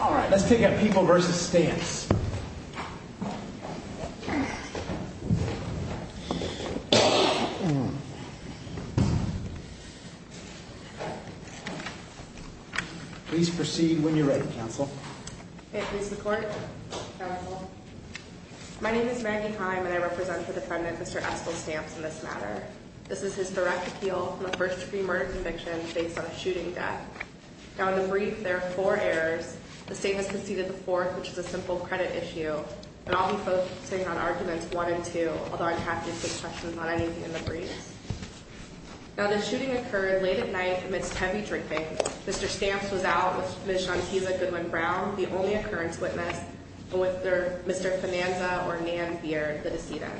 All right, let's pick up People v. Stamps. Please proceed when you're ready, Counsel. Thank you, Mr. Court. Counsel. My name is Maggie Kime, and I represent the defendant, Mr. Eskel Stamps, in this matter. This is his direct appeal from a first-degree murder conviction based on a shooting death. Now, in the brief, there are four errors. The state has conceded the fourth, which is a simple credit issue, and I'll be focusing on Arguments 1 and 2, although I'm happy to take questions on anything in the briefs. Now, the shooting occurred late at night amidst heavy drinking. Mr. Stamps was out with Ms. Shantiza Goodwin-Brown, the only occurrence witness, and with Mr. Finanza or Nan Beard, the decedent.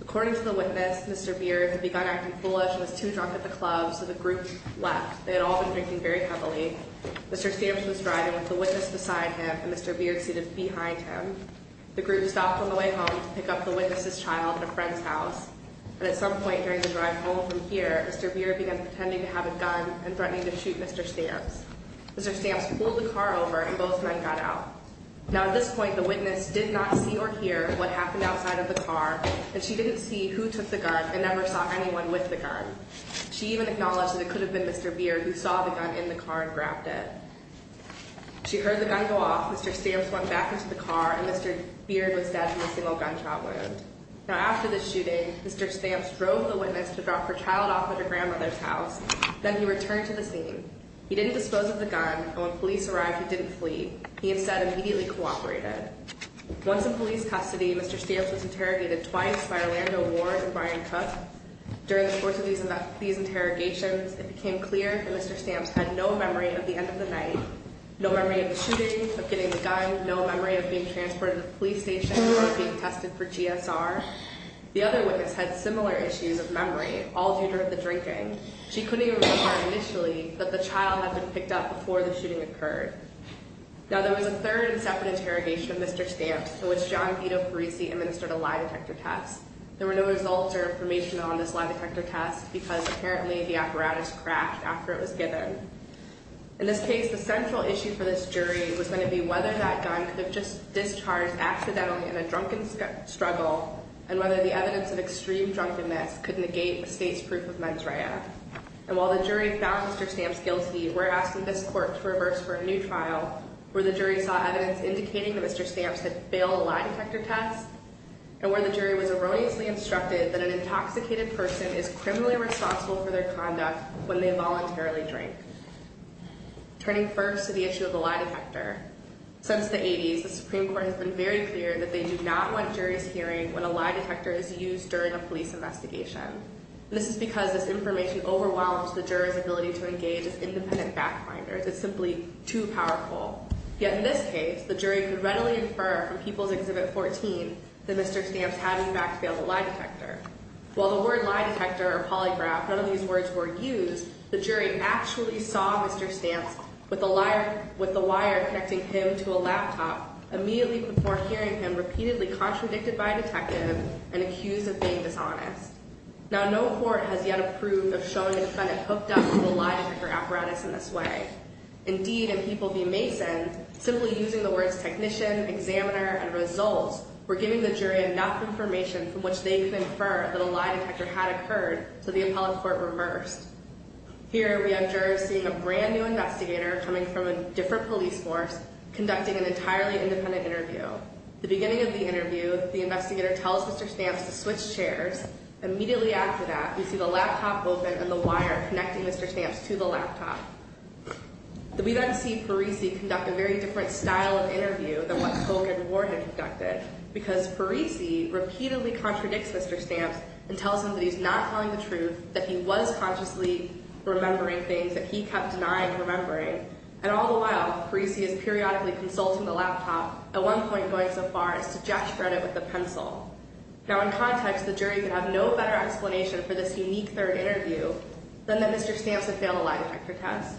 According to the witness, Mr. Beard had begun acting foolish and was too drunk at the club, so the group left. They had all been drinking very heavily. Mr. Stamps was driving with the witness beside him, and Mr. Beard seated behind him. The group stopped on the way home to pick up the witness's child at a friend's house, and at some point during the drive home from here, Mr. Beard began pretending to have a gun and threatening to shoot Mr. Stamps. Mr. Stamps pulled the car over, and both men got out. Now, at this point, the witness did not see or hear what happened outside of the car, and she didn't see who took the gun and never saw anyone with the gun. She even acknowledged that it could have been Mr. Beard, who saw the gun in the car and grabbed it. She heard the gun go off, Mr. Stamps went back into the car, and Mr. Beard was dead from a single gunshot wound. Now, after the shooting, Mr. Stamps drove the witness to drop her child off at her grandmother's house, then he returned to the scene. He didn't dispose of the gun, and when police arrived, he didn't flee. He instead immediately cooperated. Once in police custody, Mr. Stamps was interrogated twice by Orlando Ward and Brian Cook. During the course of these interrogations, it became clear that Mr. Stamps had no memory of the end of the night, no memory of the shooting, of getting the gun, no memory of being transported to the police station or of being tested for GSR. The other witness had similar issues of memory, all due to the drinking. She couldn't even remember initially that the child had been picked up before the shooting occurred. Now, there was a third and separate interrogation of Mr. Stamps in which John Vito Parisi administered a lie detector test. There were no results or information on this lie detector test because apparently the apparatus crashed after it was given. In this case, the central issue for this jury was going to be whether that gun could have just discharged accidentally in a drunken struggle and whether the evidence of extreme drunkenness could negate the state's proof of mens rea. And while the jury found Mr. Stamps guilty, we're asking this court to reverse for a new trial where the jury saw evidence indicating that Mr. Stamps had failed a lie detector test and where the jury was erroneously instructed that an intoxicated person is criminally responsible for their conduct when they voluntarily drink. Turning first to the issue of the lie detector, since the 80s, the Supreme Court has been very clear that they do not want juries hearing when a lie detector is used during a police investigation. This is because this information overwhelms the jurors' ability to engage as independent back finders. It's simply too powerful. Yet in this case, the jury could readily infer from People's Exhibit 14 that Mr. Stamps had, in fact, failed a lie detector. While the word lie detector or polygraph, none of these words were used, the jury actually saw Mr. Stamps with the wire connecting him to a laptop immediately before hearing him repeatedly contradicted by a detective and accused of being dishonest. Now, no court has yet approved of showing a defendant hooked up to a lie detector apparatus in this way. Indeed, in People v. Mason, simply using the words technician, examiner, and results were giving the jury enough information from which they could infer that a lie detector had occurred so the appellate court reversed. Here, we have jurors seeing a brand new investigator coming from a different police force conducting an entirely independent interview. At the beginning of the interview, the investigator tells Mr. Stamps to switch chairs. Immediately after that, we see the laptop open and the wire connecting Mr. Stamps to the laptop. We then see Parisi conduct a very different style of interview than what Polk and Ward had conducted because Parisi repeatedly contradicts Mr. Stamps and tells him that he's not telling the truth, that he was consciously remembering things that he kept denying remembering, and all the while, Parisi is periodically consulting the laptop, at one point going so far as to just shred it with a pencil. Now, in context, the jury could have no better explanation for this unique third interview than that Mr. Stamps had failed a lie detector test.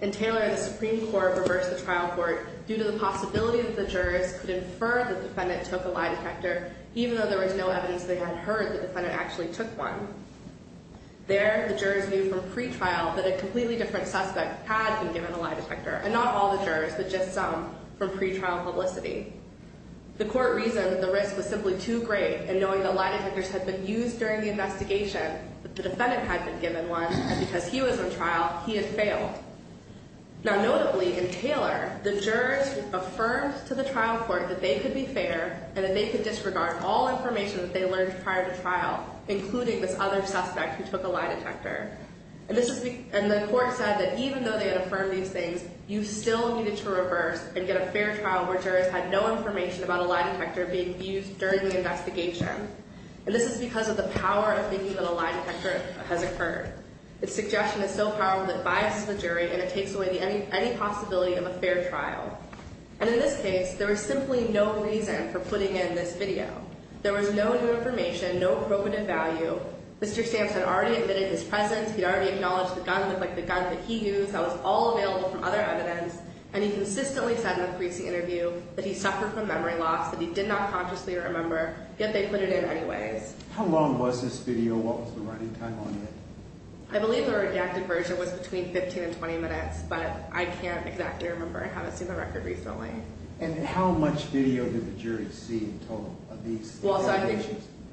In Taylor, the Supreme Court reversed the trial court due to the possibility that the jurors could infer the defendant took a lie detector even though there was no evidence they had heard the defendant actually took one. There, the jurors knew from pretrial that a completely different suspect had been given a lie detector, and not all the jurors, but just some from pretrial publicity. The court reasoned that the risk was simply too great in knowing that lie detectors had been used during the investigation, that the defendant had been given one, and because he was on trial, he had failed. Now, notably, in Taylor, the jurors affirmed to the trial court that they could be fair and that they could disregard all information that they learned prior to trial, including this other suspect who took a lie detector. And the court said that even though they had affirmed these things, you still needed to reverse and get a fair trial where jurors had no information about a lie detector being used during the investigation. And this is because of the power of thinking that a lie detector has occurred. Its suggestion is so powerful that it biases the jury and it takes away any possibility of a fair trial. And in this case, there was simply no reason for putting in this video. There was no new information, no probative value. Mr. Stamps had already admitted his presence, he'd already acknowledged the gun that he used that was all available from other evidence, and he consistently said in the preceding interview that he suffered from memory loss, that he did not consciously remember, yet they put it in anyways. How long was this video? What was the writing time on it? I believe the redacted version was between 15 and 20 minutes, but I can't exactly remember. I haven't seen the record recently. And how much video did the jury see in total of these?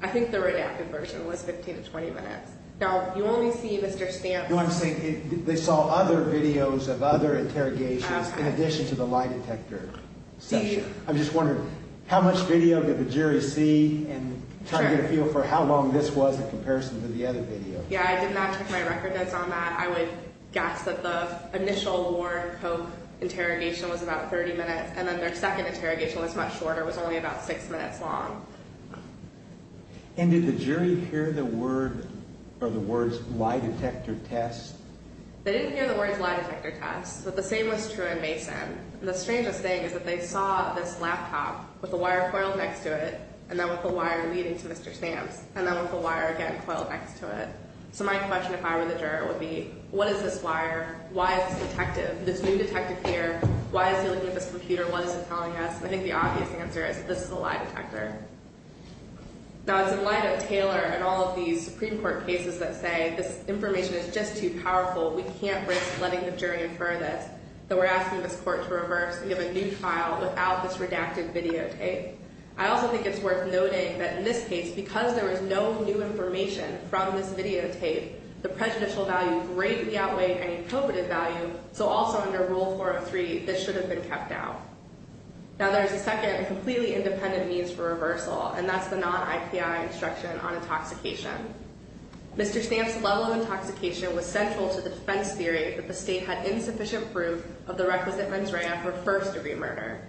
I think the redacted version was 15 to 20 minutes. Now, you only see Mr. Stamps... You know what I'm saying? They saw other videos of other interrogations in addition to the lie detector section. I'm just wondering, how much video did the jury see and try to get a feel for how long this was in comparison to the other video? Yeah, I did not check my record notes on that. I would guess that the initial Warren Koch interrogation was about 30 minutes and then their second interrogation was much shorter, was only about 6 minutes long. And did the jury hear the words lie detector test? They didn't hear the words lie detector test, but the same was true in Mason. The strangest thing is that they saw this laptop with the wire coiled next to it and then with the wire leading to Mr. Stamps and then with the wire again coiled next to it. So my question if I were the juror would be, what is this wire? Why is this detective, this new detective here, why is he looking at this computer? What is he telling us? I think the obvious answer is that this is a lie detector. Now, it's in light of Taylor and all of these Supreme Court cases that say this information is just too powerful, we can't risk letting the jury infer this, that we're asking this court to reverse and give a new trial without this redacted videotape. I also think it's worth noting that in this case, because there was no new information from this videotape, the prejudicial value greatly outweighed any probative value, so also under Rule 403, this should have been kept out. Now, there's a second completely independent means for reversal, and that's the non-IPI instruction on intoxication. Mr. Stamps' level of intoxication was central to the defense theory that the state had insufficient proof of the requisite mens rea for first-degree murder.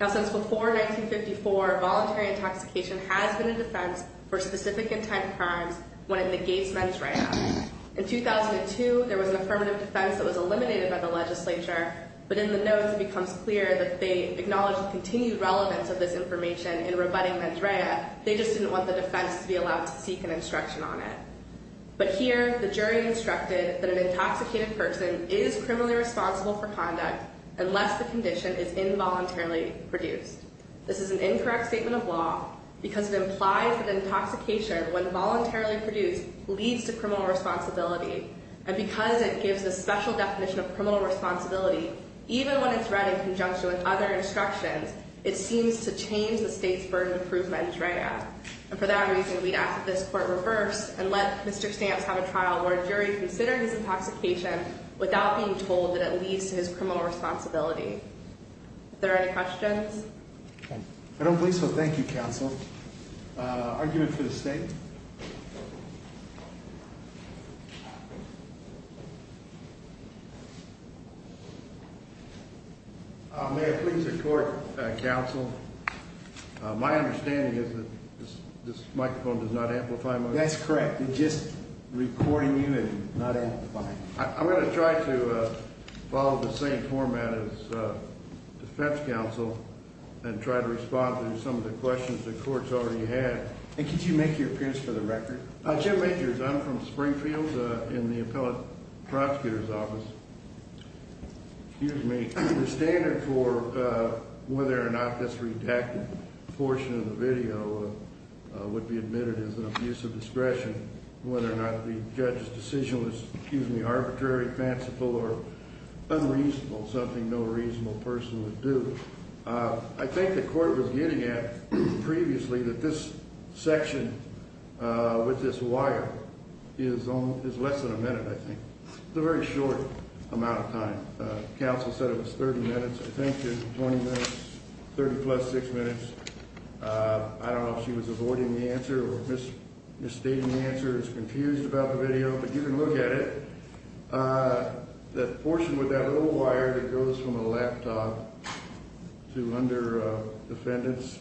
Now, since before 1954, voluntary intoxication has been a defense for specific intent crimes when it negates mens rea. In 2002, there was an affirmative defense that was eliminated by the legislature, but in the notes, it becomes clear that they acknowledge the continued relevance of this information in rebutting mens rea. They just didn't want the defense to be allowed to seek an instruction on it. But here, the jury instructed that an intoxicated person is criminally responsible for conduct unless the condition is involuntarily produced. This is an incorrect statement of law because it implies that intoxication, when voluntarily produced, leads to criminal responsibility. And because it gives a special definition of criminal responsibility, even when it's read in conjunction with other instructions, it seems to change the state's burden of proof of mens rea. And for that reason, we'd ask that this court reverse and let Mr. Stamps have a trial where a jury considered his intoxication without being told that it leads to his criminal responsibility. Are there any questions? I don't believe so. Thank you, counsel. Argument for the state. May I please report, counsel? My understanding is that this microphone does not amplify my voice. That's correct. It's just recording you and not amplifying. I'm going to try to follow the same format as defense counsel and try to respond to some of the questions the court's already had. And could you make your appearance for the record? Jim Rangers, I'm from Springfield in the appellate prosecutor's office. Excuse me. The standard for whether or not this redacted portion of the video would be admitted as an abuse of discretion, whether or not the judge's decision was arbitrary, fanciful, or unreasonable, something no reasonable person would do. I think the court was getting at previously that this section with this wire is less than a minute, I think. It's a very short amount of time. Counsel said it was 30 minutes. I think it was 20 minutes, 30-plus, 6 minutes. I don't know if she was avoiding the answer or misstating the answer or is confused about the video, but you can look at it. The portion with that little wire that goes from a laptop to under defendant's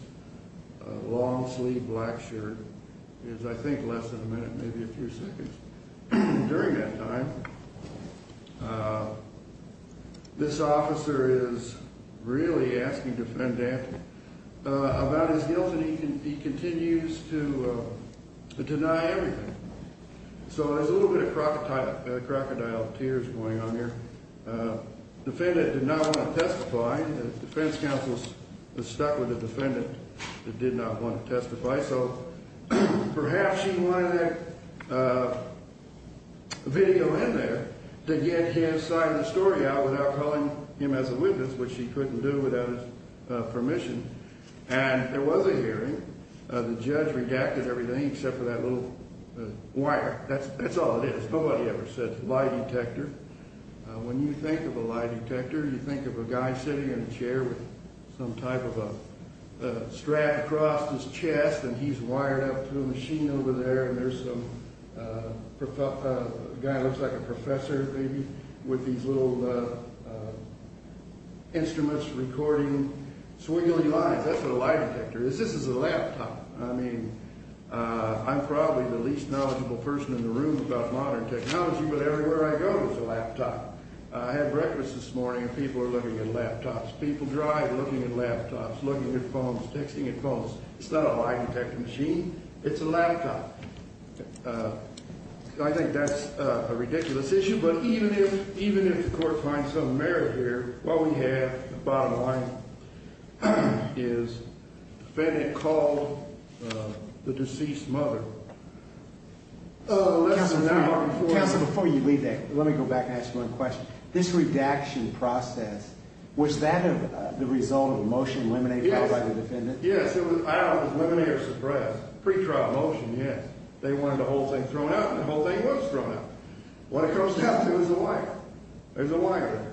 long-sleeved black shirt is, I think, less than a minute, maybe a few seconds. During that time, this officer is really asking defendant about his guilt, and he continues to deny everything. So there's a little bit of crocodile tears going on here. Defendant did not want to testify. The defense counsel was stuck with the defendant that did not want to testify, so perhaps she wanted a video in there to get his side of the story out without calling him as a witness, which she couldn't do without his permission. And there was a hearing. The judge redacted everything except for that little wire. That's all it is. Nobody ever said lie detector. When you think of a lie detector, you think of a guy sitting in a chair with some type of a strap across his chest, and he's wired up to a machine over there, and there's some guy who looks like a professor, maybe, with these little instruments recording swiggly lines. That's what a lie detector is. This is a laptop. I mean, I'm probably the least knowledgeable person in the room about modern technology, but everywhere I go there's a laptop. I had breakfast this morning, and people are looking at laptops. People drive looking at laptops, looking at phones, texting at phones. It's not a lie detector machine. It's a laptop. I think that's a ridiculous issue, but even if the court finds some merit here, what we have, bottom line, is the defendant called the deceased mother. Counsel, before you leave that, let me go back and ask one question. This redaction process, was that the result of a motion limineer filed by the defendant? Yes, it was limineer suppressed. Pre-trial motion, yes. They wanted the whole thing thrown out, and the whole thing was thrown out. What it comes down to is a wire. There's a wire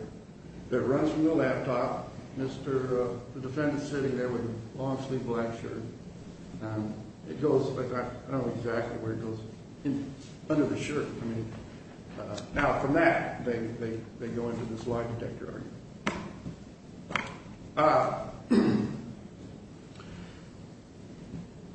that runs from the laptop. The defendant's sitting there with a long, sleeved black shirt. It goes, I don't know exactly where it goes, under the shirt. Now, from that, they go into this lie detector argument.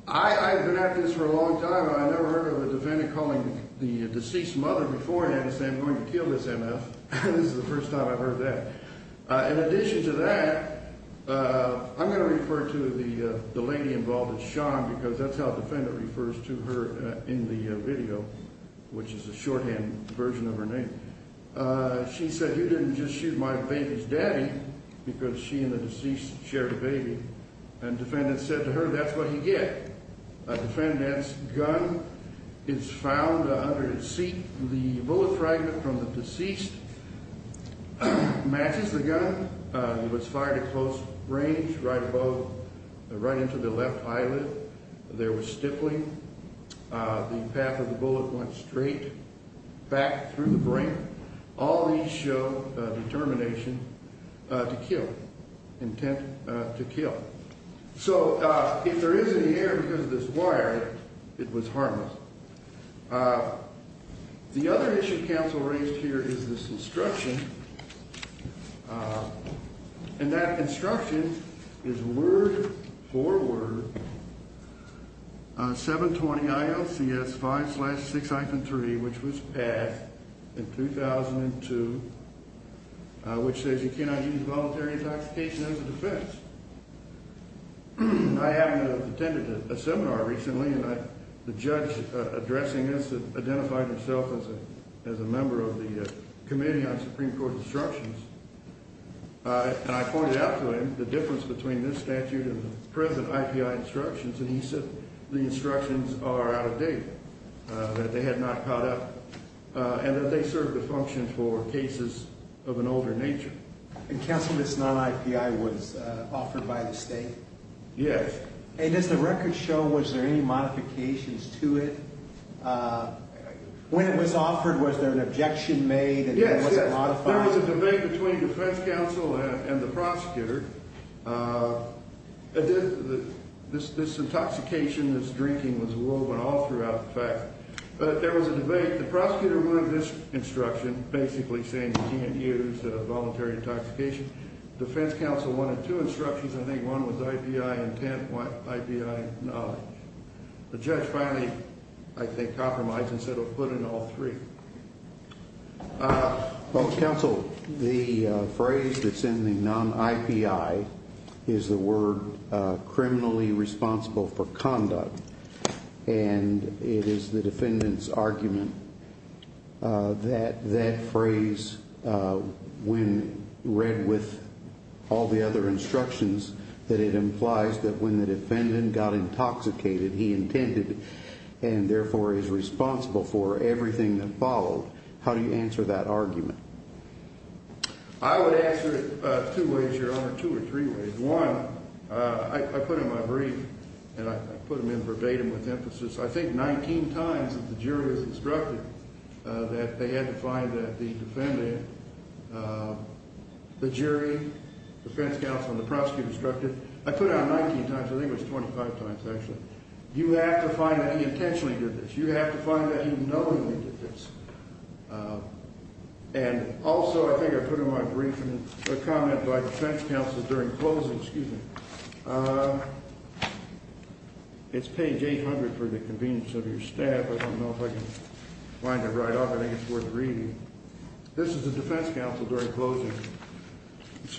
I have been at this for a long time, and I never heard of a defendant calling the deceased mother beforehand and saying, I'm going to kill this M.F. This is the first time I've heard that. In addition to that, I'm going to refer to the lady involved as Sean, because that's how defendant refers to her in the video, which is a shorthand version of her name. She said, you didn't just shoot my baby's daddy, because she and the deceased shared a baby. And defendant said to her, that's what you get. A defendant's gun is found under his seat. The bullet fragment from the deceased matches the gun. It was fired at close range, right above, right into the left eyelid. There was stifling. The path of the bullet went straight back through the brain. All these show determination to kill, intent to kill. So if there is any error because of this wire, it was harmless. The other issue counsel raised here is this instruction. And that instruction is word for word, 720 ILCS 5-6-3, which was passed in 2002, which says you cannot use voluntary intoxication as a defense. I attended a seminar recently, and the judge addressing this identified himself as a member of the Committee on Supreme Court Instructions. And I pointed out to him the difference between this statute and the present IPI instructions, and he said the instructions are out of date, that they had not caught up, and that they serve the function for cases of an older nature. And counsel, this non-IPI was offered by the state? Yes. And does the record show, was there any modifications to it? When it was offered, was there an objection made, and was it modified? Yes, there was a debate between defense counsel and the prosecutor. This intoxication, this drinking was woven all throughout the fact. But there was a debate. The prosecutor removed this instruction, basically saying you can't use voluntary intoxication. Defense counsel wanted two instructions. I think one was IPI intent, one IPI knowledge. The judge finally, I think, compromised and said he'll put in all three. Well, counsel, the phrase that's in the non-IPI is the word criminally responsible for conduct, and it is the defendant's argument that that phrase, when read with all the other instructions, that it implies that when the defendant got intoxicated, he intended and therefore is responsible for everything that followed. How do you answer that argument? I would answer it two ways, Your Honor, two or three ways. One, I put in my brief, and I put them in verbatim with emphasis, I think 19 times that the jury was instructed that they had to find that the defendant, the jury, defense counsel, and the prosecutor instructed. I put it on 19 times. I think it was 25 times, actually. You have to find that he intentionally did this. You have to find that he knowingly did this. And also I think I put in my brief a comment by defense counsel during closing. Excuse me. It's page 800 for the convenience of your staff. I don't know if I can find it right off. I think it's worth reading. This is the defense counsel during closing.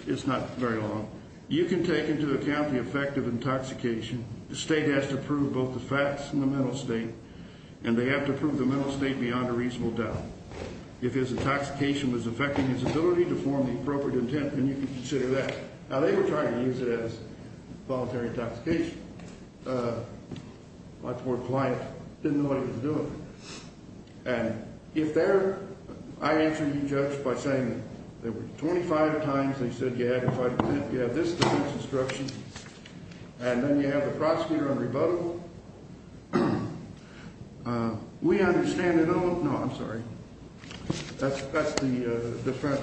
It's not very long. You can take into account the effect of intoxication. The state has to prove both the facts and the mental state, and they have to prove the mental state beyond a reasonable doubt. If his intoxication was affecting his ability to form the appropriate intent, then you can consider that. Now, they were trying to use it as voluntary intoxication. A lot more polite. Didn't know what he was doing. And if they're ‑‑ I answered the judge by saying there were 25 times they said you had to find it. You have this defense instruction, and then you have the prosecutor on rebuttal. We understand ‑‑ no, I'm sorry. That's the defense.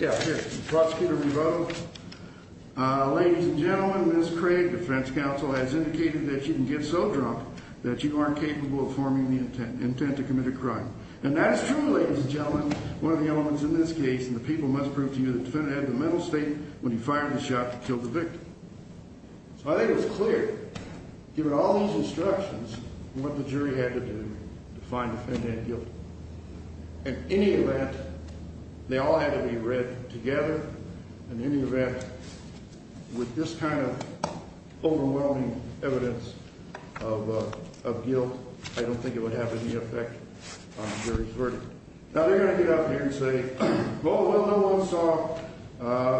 Yeah, here. Prosecutor rebuttal. Ladies and gentlemen, Ms. Craig, defense counsel, has indicated that you can get so drunk that you aren't capable of forming the intent to commit a crime. And that is true, ladies and gentlemen, one of the elements in this case, and the people must prove to you the defendant had the mental state when he fired the shot to kill the victim. So I think it was clear, given all these instructions, what the jury had to do to find the defendant guilty. In any event, they all had to be read together. In any event, with this kind of overwhelming evidence of guilt, I don't think it would have any effect on the jury's verdict. Now, they're going to get up here and say, oh, well, no one saw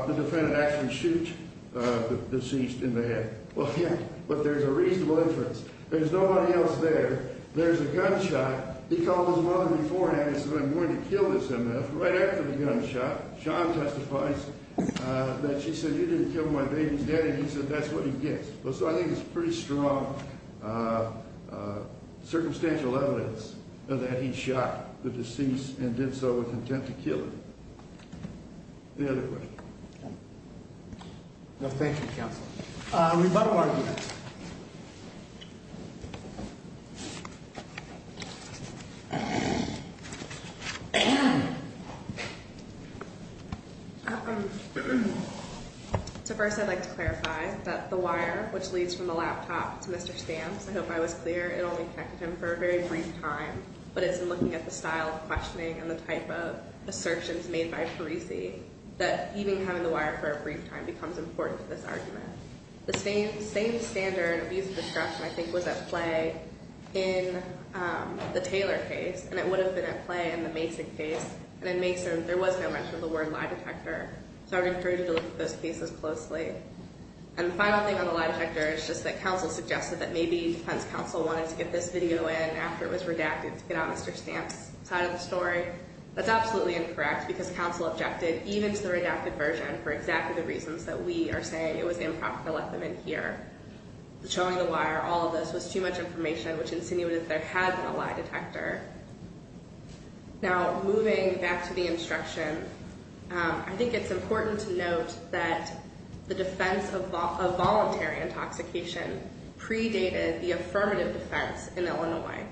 the defendant actually shoot the deceased in the head. Well, yeah, but there's a reasonable inference. There's nobody else there. There's a gunshot. He called his mother beforehand and said, I'm going to kill this M.F. right after the gunshot. John testifies that she said, you didn't kill my baby's daddy. He said, that's what he gets. So I think it's pretty strong circumstantial evidence that he shot the deceased and did so with intent to kill her. The other way. Thank you, counsel. Rebuttal arguments. So first I'd like to clarify that the wire, which leads from the laptop to Mr. Stamps, I hope I was clear, it only connected him for a very brief time, but it's in looking at the style of questioning and the type of assertions made by Parisi that even having the wire for a brief time becomes important to this argument. The same standard of use of discretion, I think, was at play in the Taylor case, and it would have been at play in the Mason case. And in Mason, there was no mention of the word lie detector, so I would encourage you to look at those cases closely. And the final thing on the lie detector is just that counsel suggested that maybe defense counsel wanted to get this video in after it was redacted to get on Mr. Stamps' side of the story. That's absolutely incorrect because counsel objected even to the redacted version for exactly the reasons that we are saying it was improper to let them in here. Showing the wire, all of this, was too much information, which insinuated that there had been a lie detector. Now, moving back to the instruction, I think it's important to note that the defense of voluntary intoxication predated the affirmative defense in Illinois.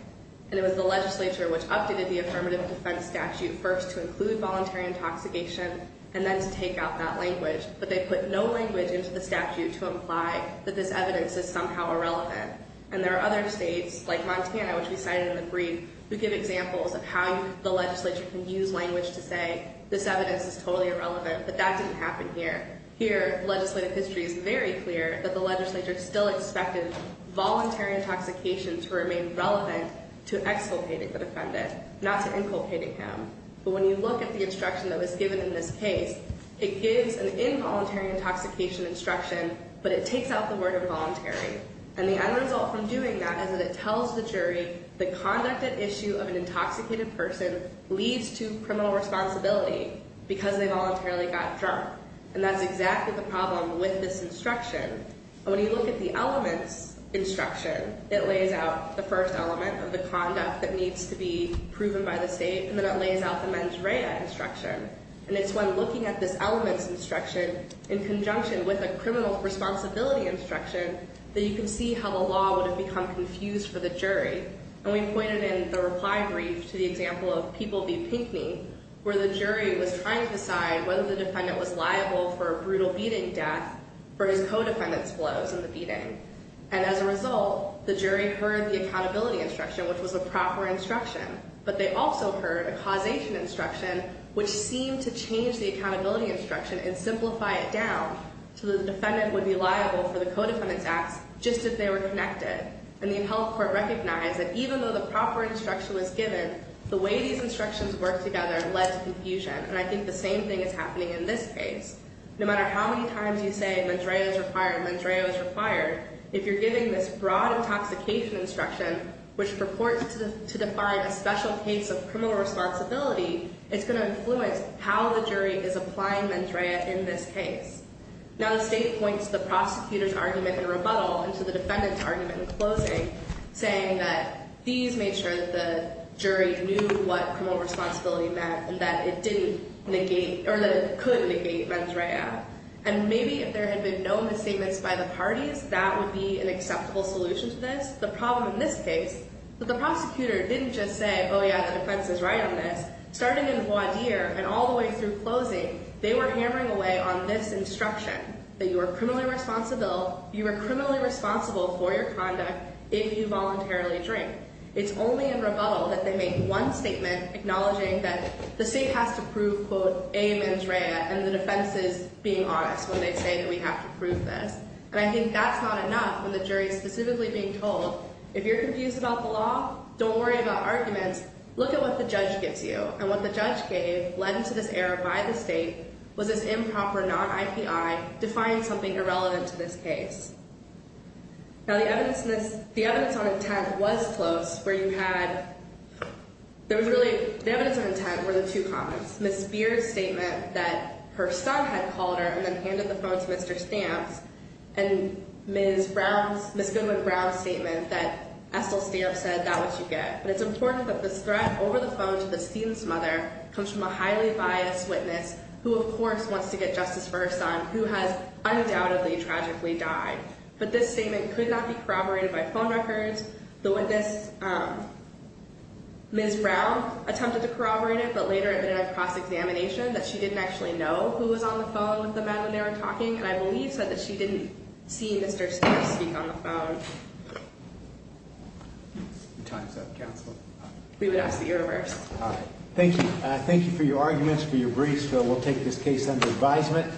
And it was the legislature which updated the affirmative defense statute first to include voluntary intoxication and then to take out that language, but they put no language into the statute to imply that this evidence is somehow irrelevant. And there are other states, like Montana, which we cited in the brief, who give examples of how the legislature can use language to say this evidence is totally irrelevant, but that didn't happen here. Here, legislative history is very clear that the legislature still expected voluntary intoxication to remain relevant to exculpating the defendant, not to inculpating him. But when you look at the instruction that was given in this case, it gives an involuntary intoxication instruction, but it takes out the word voluntary. And the end result from doing that is that it tells the jury the conduct at issue of an intoxicated person leads to criminal responsibility because they voluntarily got drunk. And that's exactly the problem with this instruction. And when you look at the elements instruction, it lays out the first element of the conduct that needs to be proven by the state, and then it lays out the mens rea instruction. And it's when looking at this elements instruction in conjunction with a criminal responsibility instruction that you can see how the law would have become confused for the jury. And we pointed in the reply brief to the example of People v. Pinkney, where the jury was trying to decide whether the defendant was liable for a brutal beating death for his co-defendant's blows in the beating. And as a result, the jury heard the accountability instruction, which was a proper instruction. But they also heard a causation instruction, which seemed to change the accountability instruction and simplify it down so that the defendant would be liable for the co-defendant's acts just if they were connected. And the health court recognized that even though the proper instruction was given, the way these instructions work together led to confusion. And I think the same thing is happening in this case. No matter how many times you say mens rea is required, mens rea is required, if you're giving this broad intoxication instruction, which purports to define a special case of criminal responsibility, it's going to influence how the jury is applying mens rea in this case. Now the state points the prosecutor's argument in rebuttal into the defendant's argument in closing, saying that these made sure that the jury knew what criminal responsibility meant and that it didn't negate or that it could negate mens rea. And maybe if there had been known statements by the parties, that would be an acceptable solution to this, the problem in this case. But the prosecutor didn't just say, oh yeah, the defense is right on this. Starting in voir dire and all the way through closing, they were hammering away on this instruction, that you are criminally responsible for your conduct if you voluntarily drink. It's only in rebuttal that they make one statement acknowledging that the state has to prove, quote, a mens rea, and the defense is being honest when they say that we have to prove this. And I think that's not enough when the jury is specifically being told, if you're confused about the law, don't worry about arguments, look at what the judge gives you. And what the judge gave, led into this error by the state, was this improper non-IPI defying something irrelevant to this case. Now the evidence on intent was close, where you had, there was really, the evidence on intent were the two comments. Ms. Beard's statement that her son had called her and then handed the phone to Mr. Stamps, and Ms. Goodwin-Brown's statement that Estill Stamps said, that's what you get. But it's important that this threat over the phone to the student's mother comes from a highly biased witness, who of course wants to get justice for her son, who has undoubtedly tragically died. But this statement could not be corroborated by phone records. The witness, Ms. Brown, attempted to corroborate it, but later it was in a cross-examination, that she didn't actually know who was on the phone with the man when they were talking, and I believe said that she didn't see Mr. Stamps speak on the phone. Time's up, counsel. We would ask that you reverse. All right. Thank you. Thank you for your arguments, for your briefs. We'll take this case under advisement.